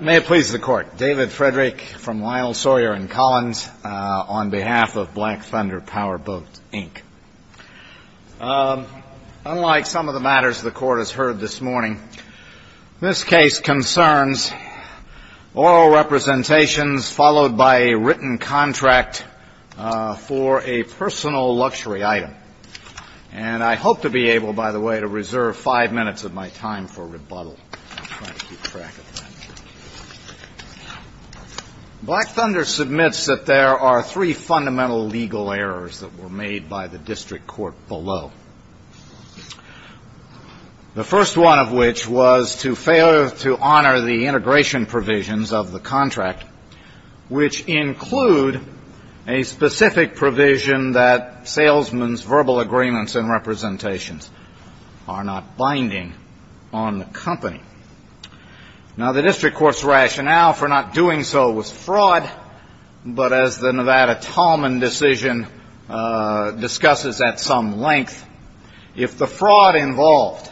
May it please the Court, David Frederick from Lyle, Sawyer & Collins, on behalf of Black Thunder Powerboats, Inc. Unlike some of the matters the Court has heard this morning, this case concerns oral representations followed by a written contract for a personal luxury item. And I hope to be able, by the way, to reserve five minutes of my time for rebuttal. Black Thunder submits that there are three fundamental legal errors that were made by the district court below. The first one of which was to fail to honor the integration provisions of the contract, which include a specific provision that salesmen's verbal agreements and representations are not binding on the company. Now, the district court's rationale for not doing so was fraud, but as the Nevada Talman decision discusses at some length, if the fraud involved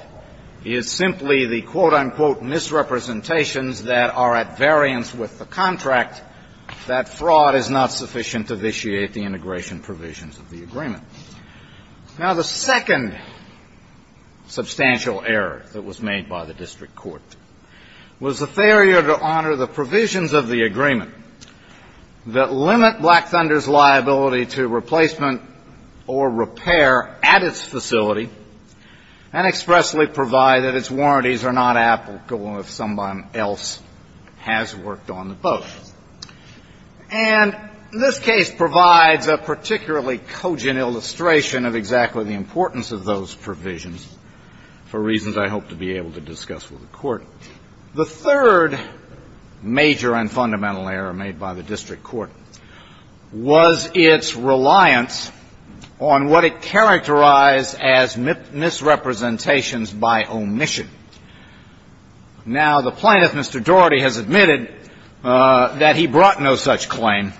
is simply the, quote, unquote, misrepresentations that are at variance with the contract, that fraud is not sufficient to vitiate the integration provisions of the agreement. Now, the second substantial error that was made by the district court was the failure to honor the provisions of the agreement that limit Black Thunder's liability to replacement or repair at its facility and expressly provide that its warranties are not applicable if someone else has worked on the boat. And this case provides a particularly cogent illustration of exactly the importance of those provisions for reasons I hope to be able to discuss with the Court. The third major and fundamental error made by the district court was its reliance on what it characterized as misrepresentations by omission. Now, the plaintiff, Mr. Daugherty, has admitted that he brought no such claim,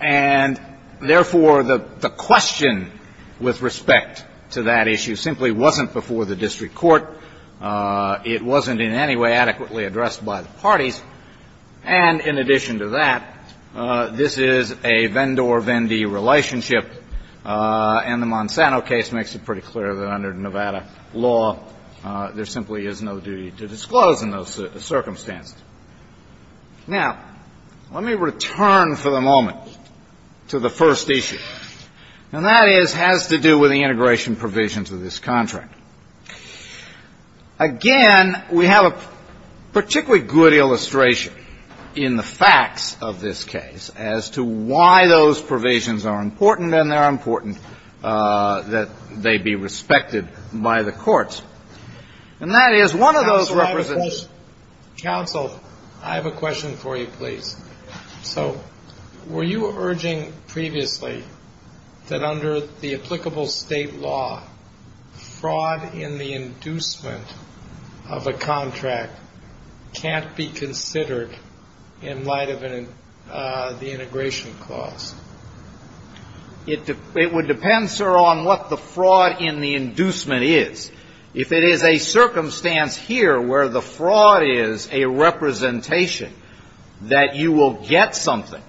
and therefore, the question with respect to that issue simply wasn't before the district court. It wasn't in any way adequately addressed by the parties. And in addition to that, this is a Vendor-Vendee relationship, and the Monsanto case makes it pretty clear that under Nevada law, there simply is no duty to disclose in those circumstances. Now, let me return for the moment to the first issue, and that is, has to do with the integration provisions of this contract. Again, we have a particularly good illustration in the facts of this case as to why those provisions are important, and they're important, that they be respected by the courts. And that is, one of those representations ---- Counsel, I have a question for you, please. So were you urging previously that under the applicable state law, fraud in the inducement of a contract can't be considered in light of the integration clause? It would depend, sir, on what the fraud in the inducement is. If it is a circumstance here where the fraud is a representation that you will get something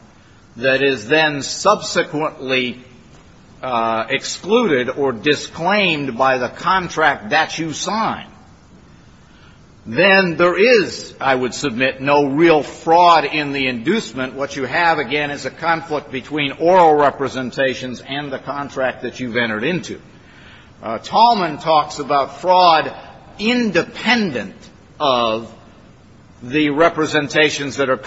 that is then subsequently excluded or disclaimed by the contract that you sign, then there is, I would submit, no real fraud in the inducement. What you have, again, is a conflict between oral representations and the contract that you've entered into. Tallman talks about fraud independent of the representations that are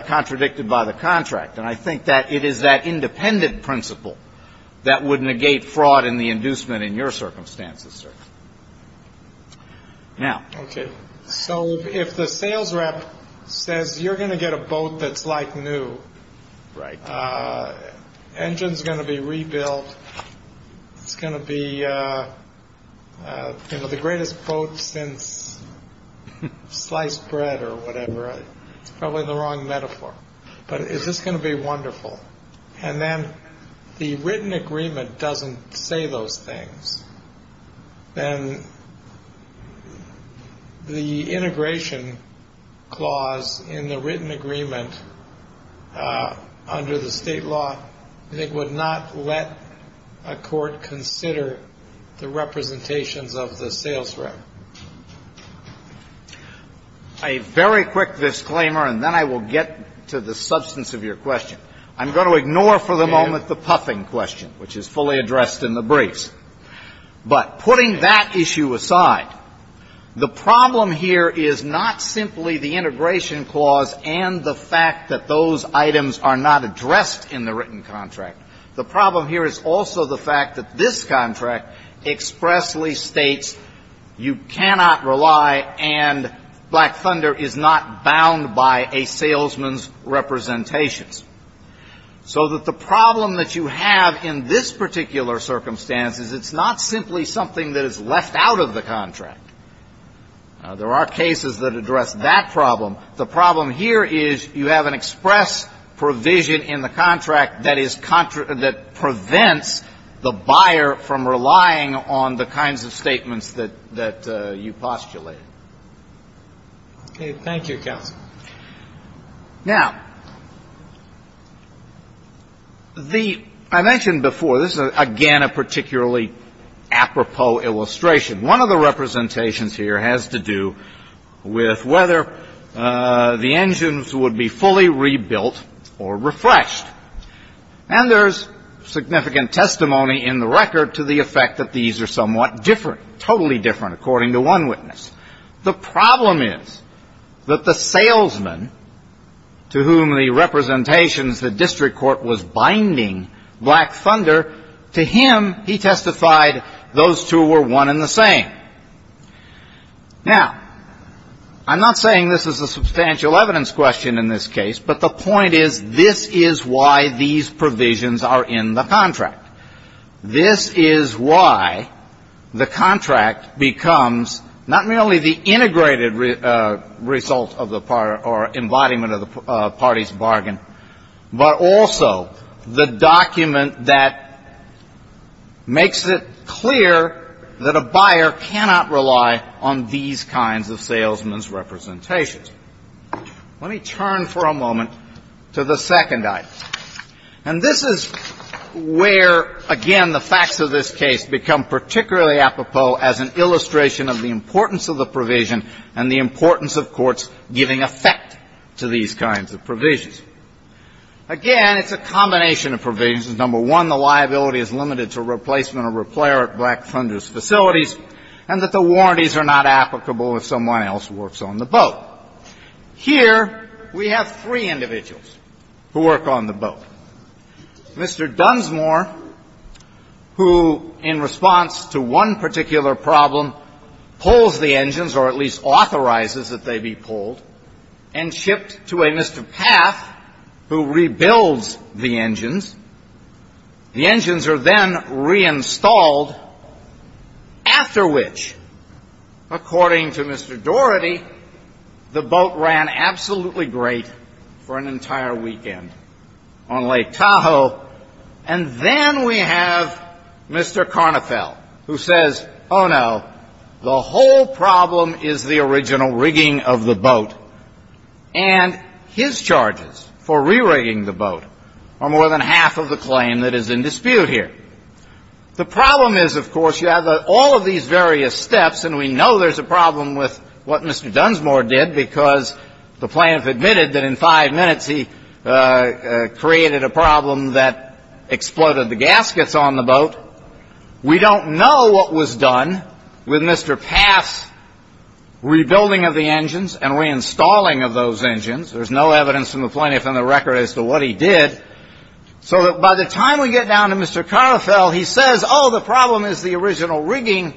contradicted by the contract. And I think that it is that independent principle that would negate fraud in the inducement in your circumstances, sir. Now ---- Okay. So if the sales rep says you're going to get a boat that's like new. Right. Engine's going to be rebuilt. It's going to be the greatest boat since sliced bread or whatever. It's probably the wrong metaphor. But is this going to be wonderful? And then the written agreement doesn't say those things. And the integration clause in the written agreement under the State law, it would not let a court consider the representations of the sales rep. A very quick disclaimer, and then I will get to the substance of your question. I'm going to ignore for the moment the puffing question, which is fully addressed in the briefs. But putting that issue aside, the problem here is not simply the integration clause and the fact that those items are not addressed in the written contract. The problem here is also the fact that this contract expressly states you cannot rely and Black Thunder is not bound by a salesman's representations. So that the problem that you have in this particular circumstance is it's not simply something that is left out of the contract. There are cases that address that problem. The problem here is you have an express provision in the contract that prevents the buyer from relying on the kinds of statements that you postulated. Okay. Thank you, counsel. Now, I mentioned before, this is, again, a particularly apropos illustration. One of the representations here has to do with whether the engines would be fully rebuilt or refreshed. And there's significant testimony in the record to the effect that these are somewhat different, totally different, according to one witness. The problem is that the salesman to whom the representations the district court was binding Black Thunder, to him, he testified those two were one and the same. Now, I'm not saying this is a substantial evidence question in this case, but the point is this is why these provisions are in the contract. This is why the contract becomes not merely the integrated result or embodiment of the party's bargain, but also the document that makes it clear that a buyer cannot rely on these kinds of salesman's representations. Let me turn for a moment to the second item. And this is where, again, the facts of this case become particularly apropos as an illustration of the importance of the provision and the importance of courts giving effect to these kinds of provisions. Again, it's a combination of provisions. Number one, the liability is limited to replacement or repair at Black Thunder's facilities, and that the warranties are not applicable if someone else works on the boat. Well, here we have three individuals who work on the boat. Mr. Dunsmore, who in response to one particular problem, pulls the engines or at least authorizes that they be pulled and shipped to a Mr. Paff, who rebuilds the engines. The engines are then reinstalled, after which, according to Mr. Doherty, the boat ran absolutely great for an entire weekend on Lake Tahoe. And then we have Mr. Karnafel, who says, oh, no, the whole problem is the original rigging of the boat. And his charges for re-rigging the boat are more than half of the claim that is in dispute here. The problem is, of course, you have all of these various steps, and we know there's a problem with what Mr. Dunsmore did because the plaintiff admitted that in five minutes he created a problem that exploded the gaskets on the boat. We don't know what was done with Mr. Paff's rebuilding of the engines and reinstalling of those engines. There's no evidence from the plaintiff in the record as to what he did. So that by the time we get down to Mr. Karnafel, he says, oh, the problem is the original rigging,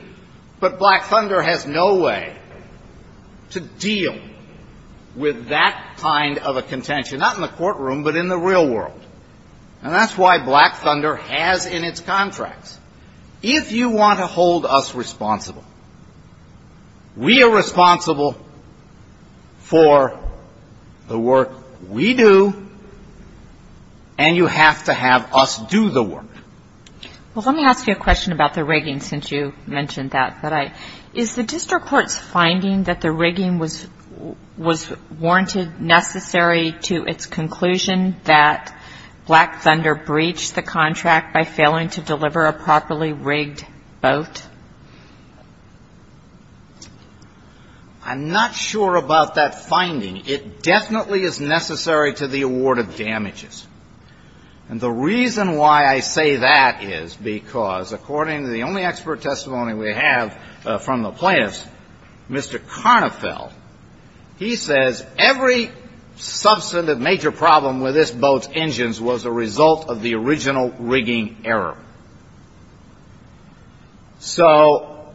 but Black Thunder has no way to deal with that kind of a contention, not in the courtroom, but in the real world. And that's why Black Thunder has in its contracts, if you want to hold us responsible, we are responsible for the work we do, and you have to have us do the work. Well, let me ask you a question about the rigging since you mentioned that. Is the district court's finding that the rigging was warranted necessary to its conclusion that Black Thunder breached the contract by failing to deliver a properly rigged boat? I'm not sure about that finding. It definitely is necessary to the award of damages. And the reason why I say that is because according to the only expert testimony we have from the plaintiffs, Mr. Karnafel, he says every substantive major problem with this boat's engines was a result of the original rigging error. So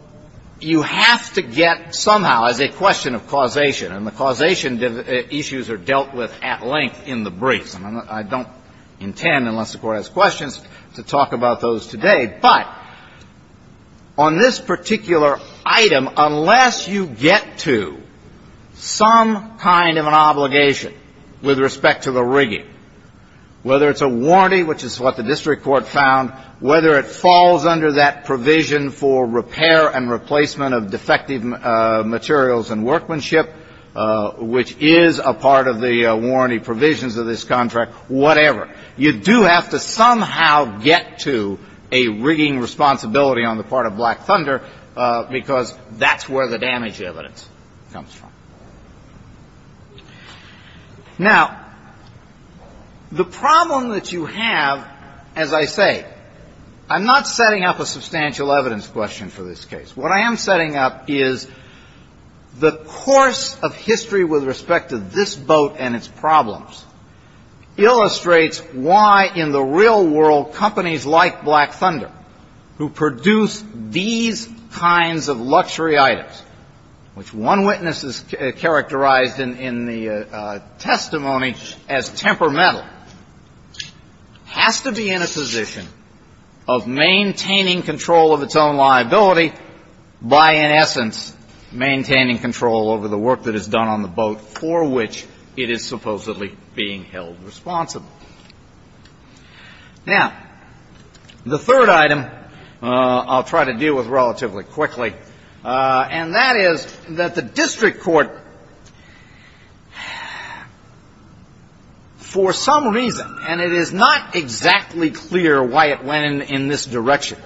you have to get somehow, as a question of causation, and the causation issues are dealt with at length in the briefs. I don't intend, unless the Court has questions, to talk about those today. But on this particular item, unless you get to some kind of an obligation with respect to the rigging, whether it's a warranty, which is what the district court found, whether it falls under that provision for repair and replacement of defective materials and workmanship, which is a part of the warranty provisions of this contract, whatever, you do have to somehow get to a rigging responsibility on the part of Black Thunder because that's where the damage evidence comes from. Now, the problem that you have, as I say, I'm not setting up a substantial evidence question for this case. What I am setting up is the course of history with respect to this boat and its problems illustrates why, in the real world, companies like Black Thunder, who produce these kinds of luxury items, which one witness has characterized in the testimony as temperamental, has to be in a position of maintaining control of its own liability by, in essence, maintaining control over the work that is done on the boat for which it is supposedly being held responsible. Now, the third item I'll try to deal with relatively quickly, and that is that the district court, for some reason, and it is not exactly clear why it went in this direction,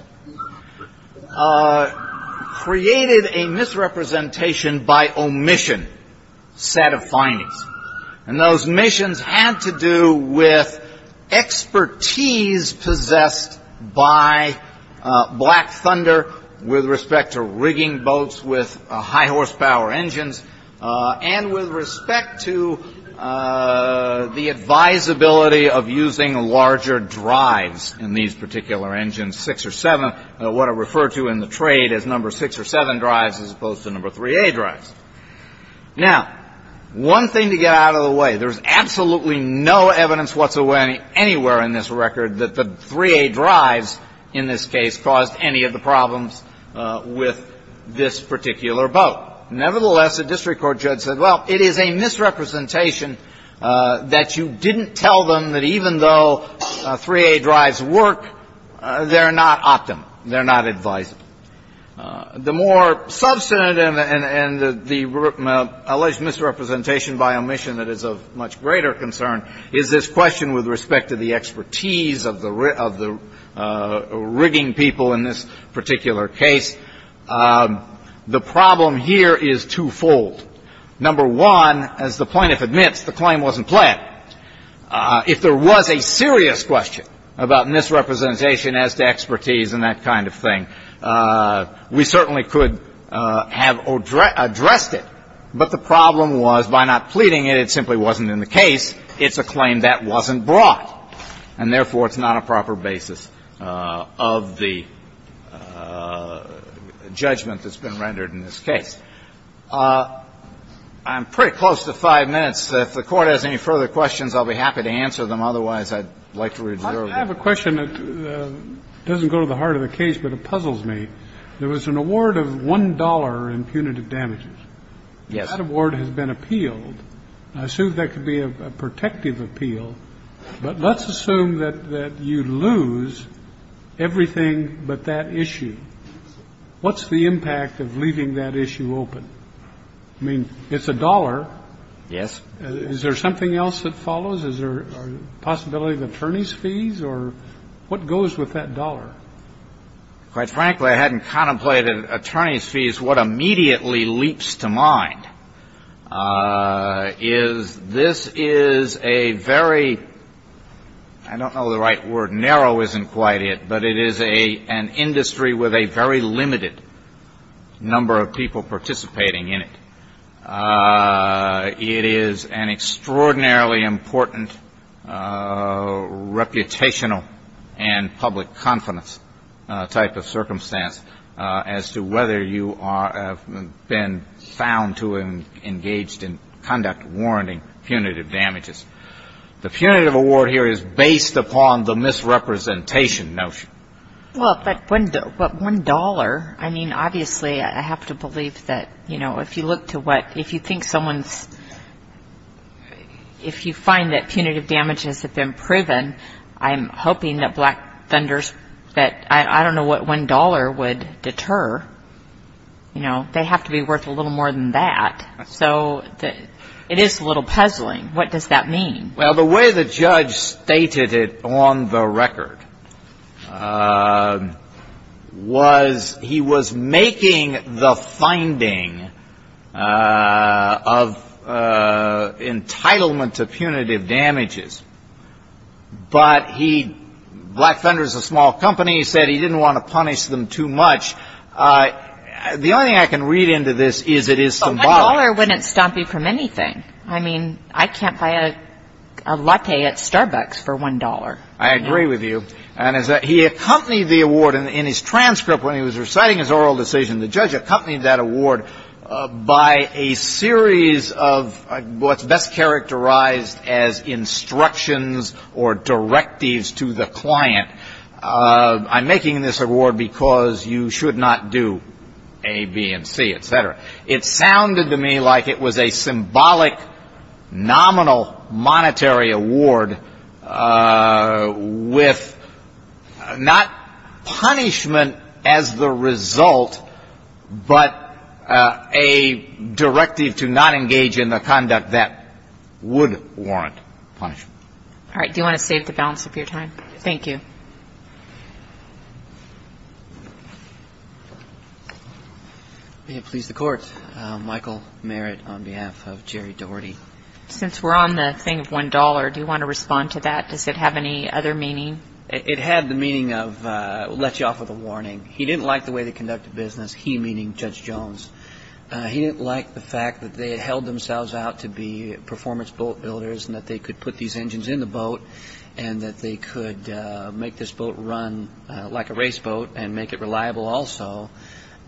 created a misrepresentation by omission set of findings. And those omissions had to do with expertise possessed by Black Thunder with respect to rigging boats with high-horsepower engines and with respect to the advisability of using larger drives in these particular engines, 6 or 7, what are referred to in the trade as number 6 or 7 drives as opposed to number 3A drives. Now, one thing to get out of the way, there's absolutely no evidence whatsoever anywhere in this record that the 3A drives, in this case, caused any of the problems with this particular boat. Nevertheless, the district court judge said, well, it is a misrepresentation that you didn't tell them that even though 3A drives work, they're not optimal, they're not advisable. The more substantive and the alleged misrepresentation by omission that is of much greater concern is this question with respect to the expertise of the rigging people in this particular case. The problem here is twofold. Number one, as the plaintiff admits, the claim wasn't planned. If there was a serious question about misrepresentation as to expertise and that kind of thing, we certainly could have addressed it. But the problem was by not pleading it, it simply wasn't in the case. It's a claim that wasn't brought. And therefore, it's not a proper basis of the judgment that's been rendered in this case. I'm pretty close to 5 minutes. If the Court has any further questions, I'll be happy to answer them. Otherwise, I'd like to re-observe. I have a question that doesn't go to the heart of the case, but it puzzles me. There was an award of $1 in punitive damages. Yes. That award has been appealed. I assume that could be a protective appeal. But let's assume that you lose everything but that issue. What's the impact of leaving that issue open? I mean, it's $1. Yes. Is there something else that follows? Is there a possibility of attorney's fees? Or what goes with that dollar? Quite frankly, I hadn't contemplated attorney's fees. What immediately leaps to mind is this is a very, I don't know the right word, narrow isn't quite it, but it is an industry with a very limited number of people participating in it. It is an extraordinarily important reputational and public confidence type of circumstance as to whether you have been found to have engaged in conduct warranting punitive damages. The punitive award here is based upon the misrepresentation notion. Well, but $1, I mean, obviously I have to believe that, you know, if you look to what, if you think someone's, if you find that punitive damages have been proven, I'm hoping that black vendors that I don't know what $1 would deter, you know, they have to be worth a little more than that. So it is a little puzzling. What does that mean? Well, the way the judge stated it on the record was he was making the finding of entitlement to punitive damages, but he, black vendors, a small company, said he didn't want to punish them too much. The only thing I can read into this is it is symbolic. $1 wouldn't stop you from anything. I mean, I can't buy a latte at Starbucks for $1. I agree with you. And he accompanied the award in his transcript when he was reciting his oral decision. The judge accompanied that award by a series of what's best characterized as instructions or directives to the client. I'm making this award because you should not do A, B, and C, et cetera. It sounded to me like it was a symbolic, nominal monetary award with not punishment as the result, but a directive to not engage in the conduct that would warrant punishment. All right. Do you want to save the balance of your time? Thank you. May it please the Court, Michael Merritt on behalf of Jerry Doherty. Since we're on the thing of $1, do you want to respond to that? Does it have any other meaning? It had the meaning of let you off with a warning. He didn't like the way they conducted business, he meaning Judge Jones. He didn't like the fact that they had held themselves out to be performance boat builders and that they could put these engines in the boat and that they could make this boat run like a race boat and make it reliable also,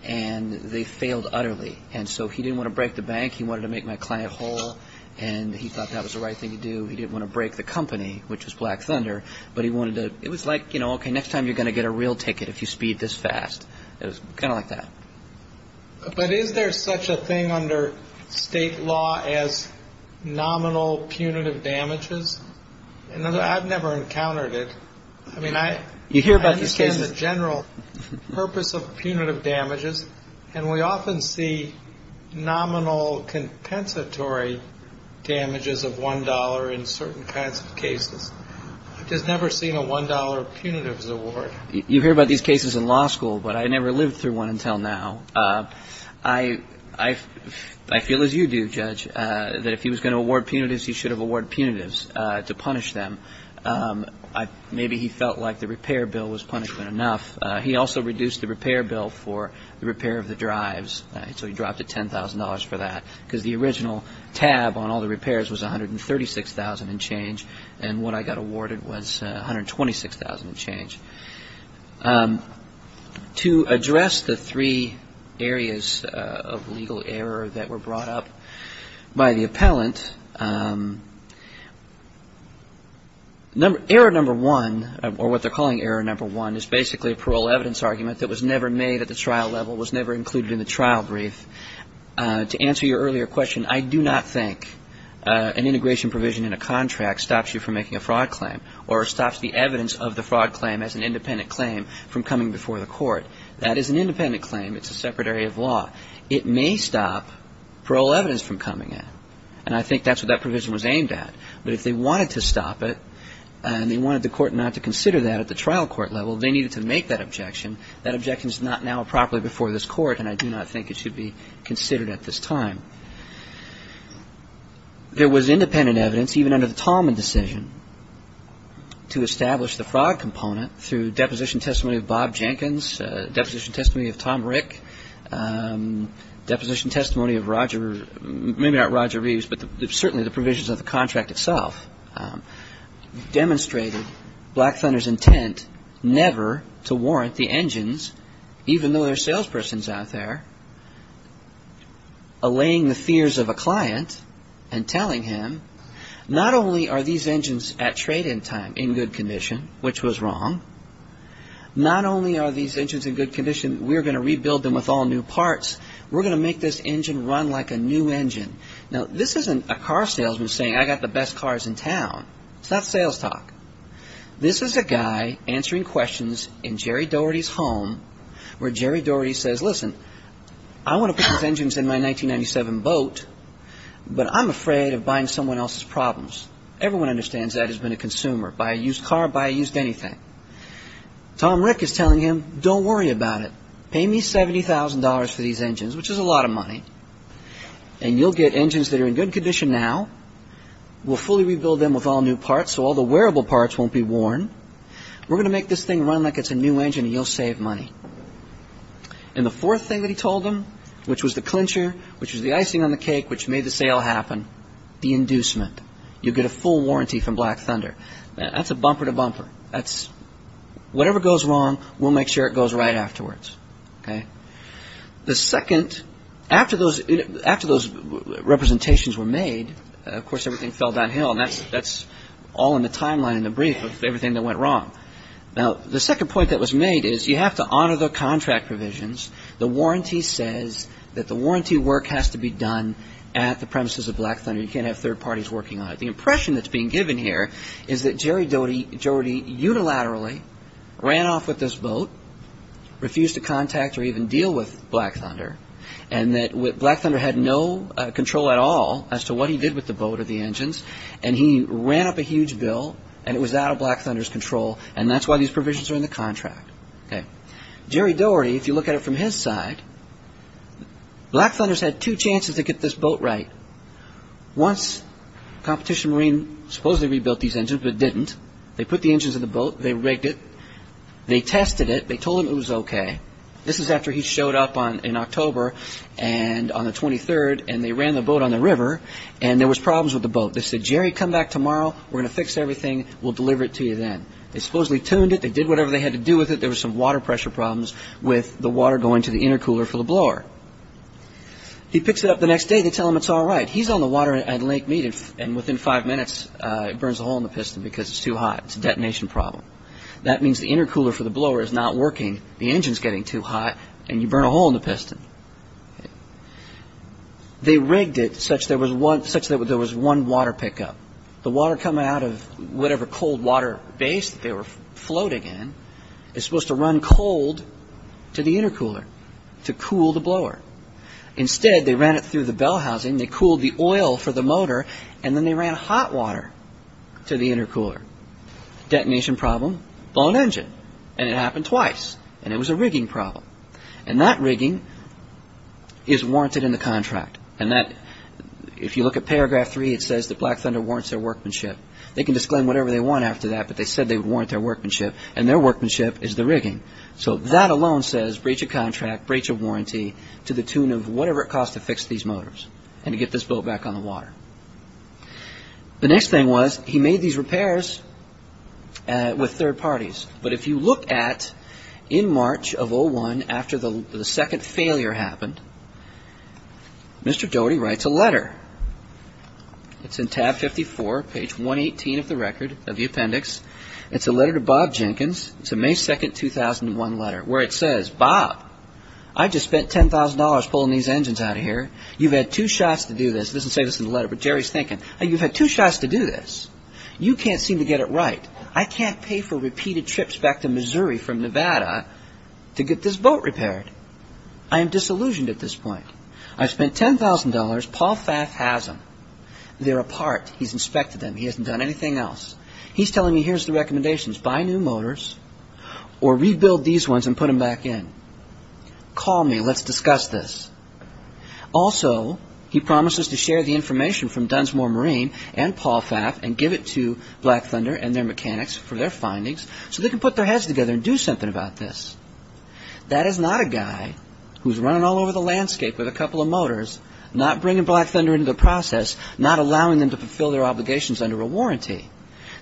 and they failed utterly. And so he didn't want to break the bank, he wanted to make my client whole, and he thought that was the right thing to do. He didn't want to break the company, which was Black Thunder, but he wanted to – it was like, you know, okay, next time you're going to get a real ticket if you speed this fast. It was kind of like that. But is there such a thing under state law as nominal punitive damages? I've never encountered it. I mean, I understand the general purpose of punitive damages, and we often see nominal compensatory damages of $1 in certain kinds of cases. I've just never seen a $1 punitives award. You hear about these cases in law school, but I never lived through one until now. I feel as you do, Judge, that if he was going to award punitives, he should have awarded punitives to punish them. Maybe he felt like the repair bill was punishment enough. He also reduced the repair bill for the repair of the drives, so he dropped it $10,000 for that because the original tab on all the repairs was $136,000 and change, and what I got awarded was $126,000 and change. To address the three areas of legal error that were brought up by the appellant, error number one, or what they're calling error number one, is basically a parole evidence argument that was never made at the trial level, was never included in the trial brief. To answer your earlier question, I do not think an integration provision in a contract stops you from making a fraud claim or stops the evidence of the fraud claim as an independent claim from coming before the court. That is an independent claim. It's a separate area of law. It may stop parole evidence from coming in, and I think that's what that provision was aimed at, but if they wanted to stop it and they wanted the court not to consider that at the trial court level, they needed to make that objection. That objection is not now properly before this court, and I do not think it should be considered at this time. There was independent evidence, even under the Tallman decision, to establish the fraud component through deposition testimony of Bob Jenkins, deposition testimony of Tom Rick, deposition testimony of Roger, maybe not Roger Reeves, but certainly the provisions of the contract itself, demonstrated Black Thunder's intent never to warrant the engines, even though there are salespersons out there, allaying the fears of a client and telling him, not only are these engines at trade-in time in good condition, which was wrong, not only are these engines in good condition, we're going to rebuild them with all new parts, we're going to make this engine run like a new engine. Now, this isn't a car salesman saying, I've got the best cars in town. It's not sales talk. This is a guy answering questions in Jerry Dougherty's home, where Jerry Dougherty says, listen, I want to put these engines in my 1997 boat, but I'm afraid of buying someone else's problems. Everyone understands that has been a consumer. Buy a used car, buy a used anything. Tom Rick is telling him, don't worry about it. Pay me $70,000 for these engines, which is a lot of money, and you'll get engines that are in good condition now. We'll fully rebuild them with all new parts, so all the wearable parts won't be worn. We're going to make this thing run like it's a new engine, and you'll save money. And the fourth thing that he told him, which was the clincher, which was the icing on the cake, which made the sale happen, the inducement. You'll get a full warranty from Black Thunder. That's a bumper to bumper. Whatever goes wrong, we'll make sure it goes right afterwards. The second, after those representations were made, of course everything fell downhill, and that's all in the timeline in the brief of everything that went wrong. Now, the second point that was made is you have to honor the contract provisions. The warranty says that the warranty work has to be done at the premises of Black Thunder. You can't have third parties working on it. The impression that's being given here is that Jerry Dougherty unilaterally ran off with this boat, refused to contact or even deal with Black Thunder, and that Black Thunder had no control at all as to what he did with the boat or the engines, and he ran up a huge bill, and it was out of Black Thunder's control, and that's why these provisions are in the contract. Jerry Dougherty, if you look at it from his side, Black Thunder's had two chances to get this boat right. Once Competition Marine supposedly rebuilt these engines, but didn't. They put the engines in the boat. They rigged it. They tested it. They told him it was okay. This is after he showed up in October on the 23rd, and they ran the boat on the river, and there was problems with the boat. They said, Jerry, come back tomorrow. We're going to fix everything. We'll deliver it to you then. They supposedly tuned it. They did whatever they had to do with it. There was some water pressure problems with the water going to the intercooler for the blower. He picks it up the next day. They tell him it's all right. He's on the water at Lake Mead, and within five minutes it burns a hole in the piston because it's too hot. It's a detonation problem. That means the intercooler for the blower is not working. The engine's getting too hot, and you burn a hole in the piston. They rigged it such that there was one water pickup. The water coming out of whatever cold water base they were floating in is supposed to run cold to the intercooler to cool the blower. Instead, they ran it through the bell housing. They cooled the oil for the motor, and then they ran hot water to the intercooler. Detonation problem, blown engine. It happened twice, and it was a rigging problem. That rigging is warranted in the contract. If you look at paragraph 3, it says that Black Thunder warrants their workmanship. They can disclaim whatever they want after that, but they said they would warrant their workmanship, and their workmanship is the rigging. So that alone says breach a contract, breach a warranty, to the tune of whatever it costs to fix these motors and to get this boat back on the water. The next thing was he made these repairs with third parties, but if you look at in March of 2001 after the second failure happened, Mr. Doughty writes a letter. It's in tab 54, page 118 of the record, of the appendix. It's a letter to Bob Jenkins. It's a May 2, 2001 letter, where it says, Bob, I just spent $10,000 pulling these engines out of here. You've had two shots to do this. It doesn't say this in the letter, but Jerry's thinking, you've had two shots to do this. You can't seem to get it right. I can't pay for repeated trips back to Missouri from Nevada to get this boat repaired. I am disillusioned at this point. I spent $10,000. Paul Faff has them. They're a part. He's inspected them. He hasn't done anything else. He's telling me, here's the recommendations. Buy new motors or rebuild these ones and put them back in. Call me. Let's discuss this. Also, he promises to share the information from Dunsmore Marine and Paul Faff and give it to Black Thunder and their mechanics for their findings so they can put their heads together and do something about this. That is not a guy who's running all over the landscape with a couple of motors, not bringing Black Thunder into the process, not allowing them to fulfill their obligations under a warranty.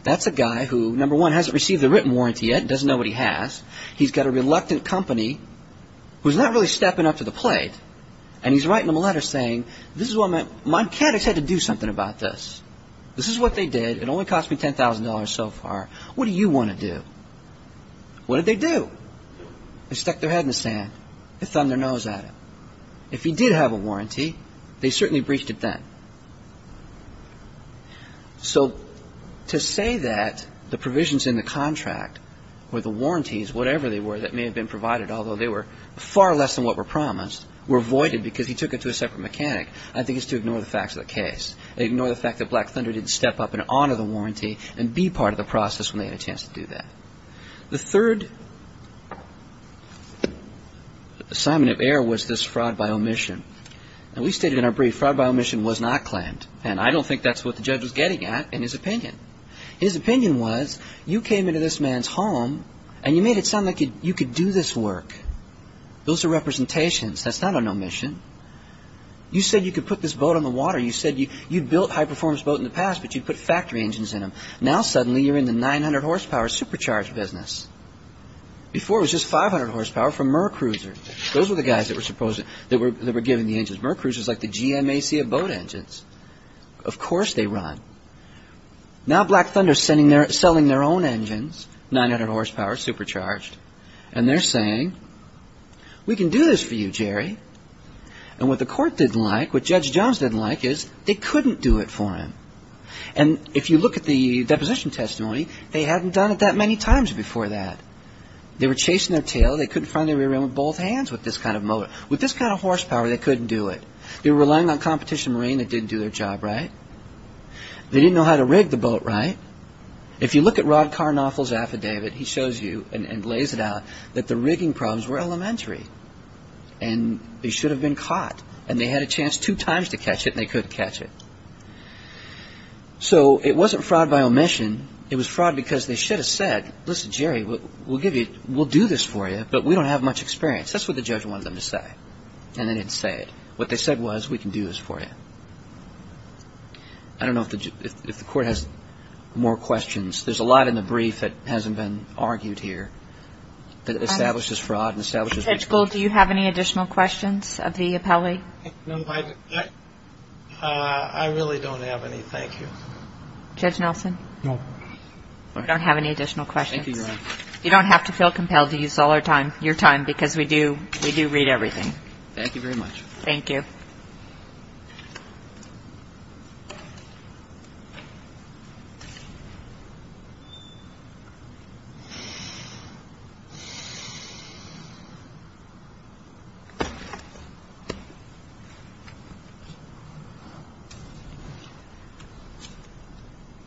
That's a guy who, number one, hasn't received a written warranty yet, doesn't know what he has. He's got a reluctant company who's not really stepping up to the plate, and he's writing them a letter saying, my mechanics had to do something about this. This is what they did. It only cost me $10,000 so far. What do you want to do? What did they do? They stuck their head in the sand. They thumbed their nose at him. If he did have a warranty, they certainly breached it then. So to say that the provisions in the contract or the warranties, whatever they were, that may have been provided, although they were far less than what were promised, were voided because he took it to a separate mechanic, I think is to ignore the facts of the case, ignore the fact that Black Thunder didn't step up and honor the warranty and be part of the process when they had a chance to do that. The third assignment of error was this fraud by omission. Now, we stated in our brief, fraud by omission was not claimed, and I don't think that's what the judge was getting at in his opinion. His opinion was, you came into this man's home and you made it sound like you could do this work. Those are representations. That's not an omission. You said you could put this boat on the water. You said you'd built high-performance boats in the past, but you put factory engines in them. Now, suddenly, you're in the 900-horsepower supercharged business. Before, it was just 500 horsepower from MerCruisers. Those were the guys that were giving the engines. MerCruisers is like the GMAC of boat engines. Of course they run. Now, Black Thunder is selling their own engines, 900 horsepower, supercharged, and they're saying, we can do this for you, Jerry. And what the court didn't like, what Judge Jones didn't like, is they couldn't do it for him. And if you look at the deposition testimony, they hadn't done it that many times before that. They were chasing their tail. They couldn't find the rear end with both hands with this kind of motor. With this kind of horsepower, they couldn't do it. They were relying on competition marine that didn't do their job right. They didn't know how to rig the boat right. If you look at Rod Carnoffel's affidavit, he shows you and lays it out that the rigging problems were elementary, and they should have been caught. And they had a chance two times to catch it, and they couldn't catch it. So it wasn't fraud by omission. It was fraud because they should have said, listen, Jerry, we'll do this for you, but we don't have much experience. That's what the judge wanted them to say. And they didn't say it. What they said was, we can do this for you. I don't know if the court has more questions. There's a lot in the brief that hasn't been argued here that establishes fraud. Judge Gold, do you have any additional questions of the appellee? No, I really don't have any. Thank you. Judge Nelson? No. We don't have any additional questions. You don't have to feel compelled to use all your time because we do read everything. Thank you very much. Thank you.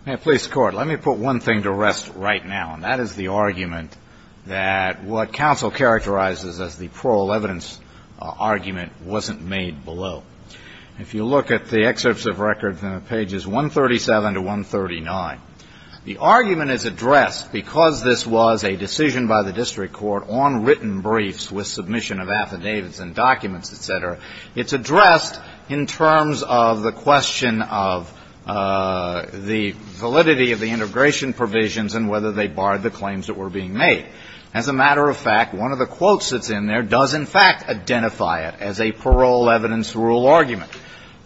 May I please, Court? Let me put one thing to rest right now, and that is the argument that what counsel characterizes as the plural evidence argument wasn't made below. If you look at the excerpts of records on pages 137 to 139, the argument is addressed because this was a decision by the district court on written briefs with submission of affidavits and documents, et cetera. It's addressed in terms of the question of the validity of the integration provisions and whether they barred the claims that were being made. As a matter of fact, one of the quotes that's in there does, in fact, identify it as a parole evidence rule argument.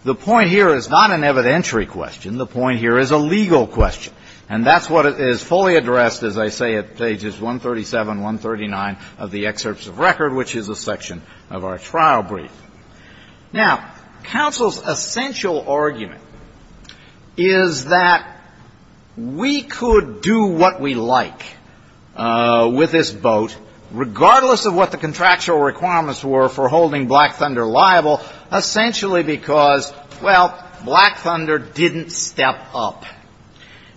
The point here is not an evidentiary question. The point here is a legal question. And that's what is fully addressed, as I say, at pages 137, 139 of the excerpts of record, which is a section of our trial brief. Now, counsel's essential argument is that we could do what we like with this boat, regardless of what the contractual requirements were for holding Black Thunder liable, essentially because, well, Black Thunder didn't step up.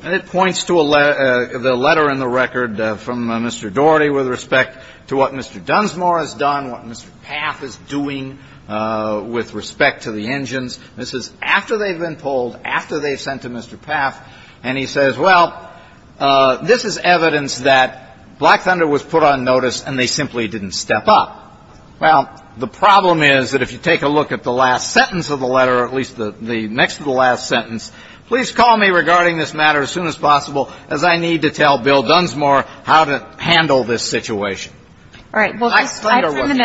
And it points to the letter in the record from Mr. Daugherty with respect to what Mr. Dunsmore has done, what Mr. Paff is doing with respect to the engines. This is after they've been pulled, after they've sent to Mr. Paff, and he says, well, this is evidence that Black Thunder was put on notice and they simply didn't step up. Well, the problem is that if you take a look at the last sentence of the letter, or at least the next to the last sentence, please call me regarding this matter as soon as possible, as I need to tell Bill Dunsmore how to handle this situation. All right. Well,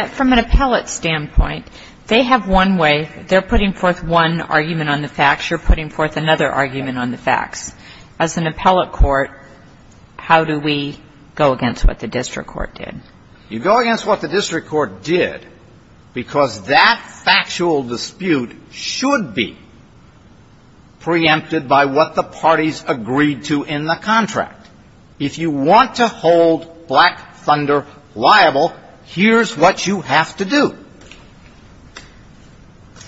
from an appellate standpoint, they have one way. They're putting forth one argument on the facts. You're putting forth another argument on the facts. As an appellate court, how do we go against what the district court did? You go against what the district court did because that factual dispute should be preempted by what the parties agreed to in the contract. If you want to hold Black Thunder liable, here's what you have to do.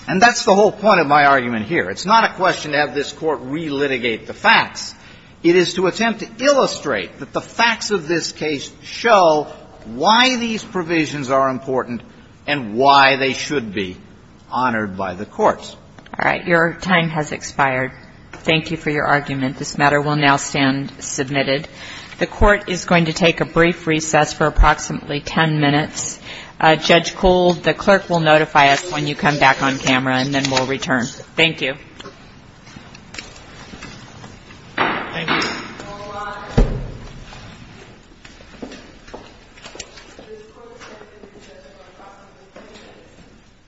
And that's the whole point of my argument here. It's not a question to have this court relitigate the facts. It is to attempt to illustrate that the facts of this case show why these provisions are important and why they should be honored by the courts. All right. Your time has expired. Thank you for your argument. This matter will now stand submitted. The Court is going to take a brief recess for approximately 10 minutes. Judge Kohl, the clerk will notify us when you come back on camera, and then we'll return. Thank you. Thank you.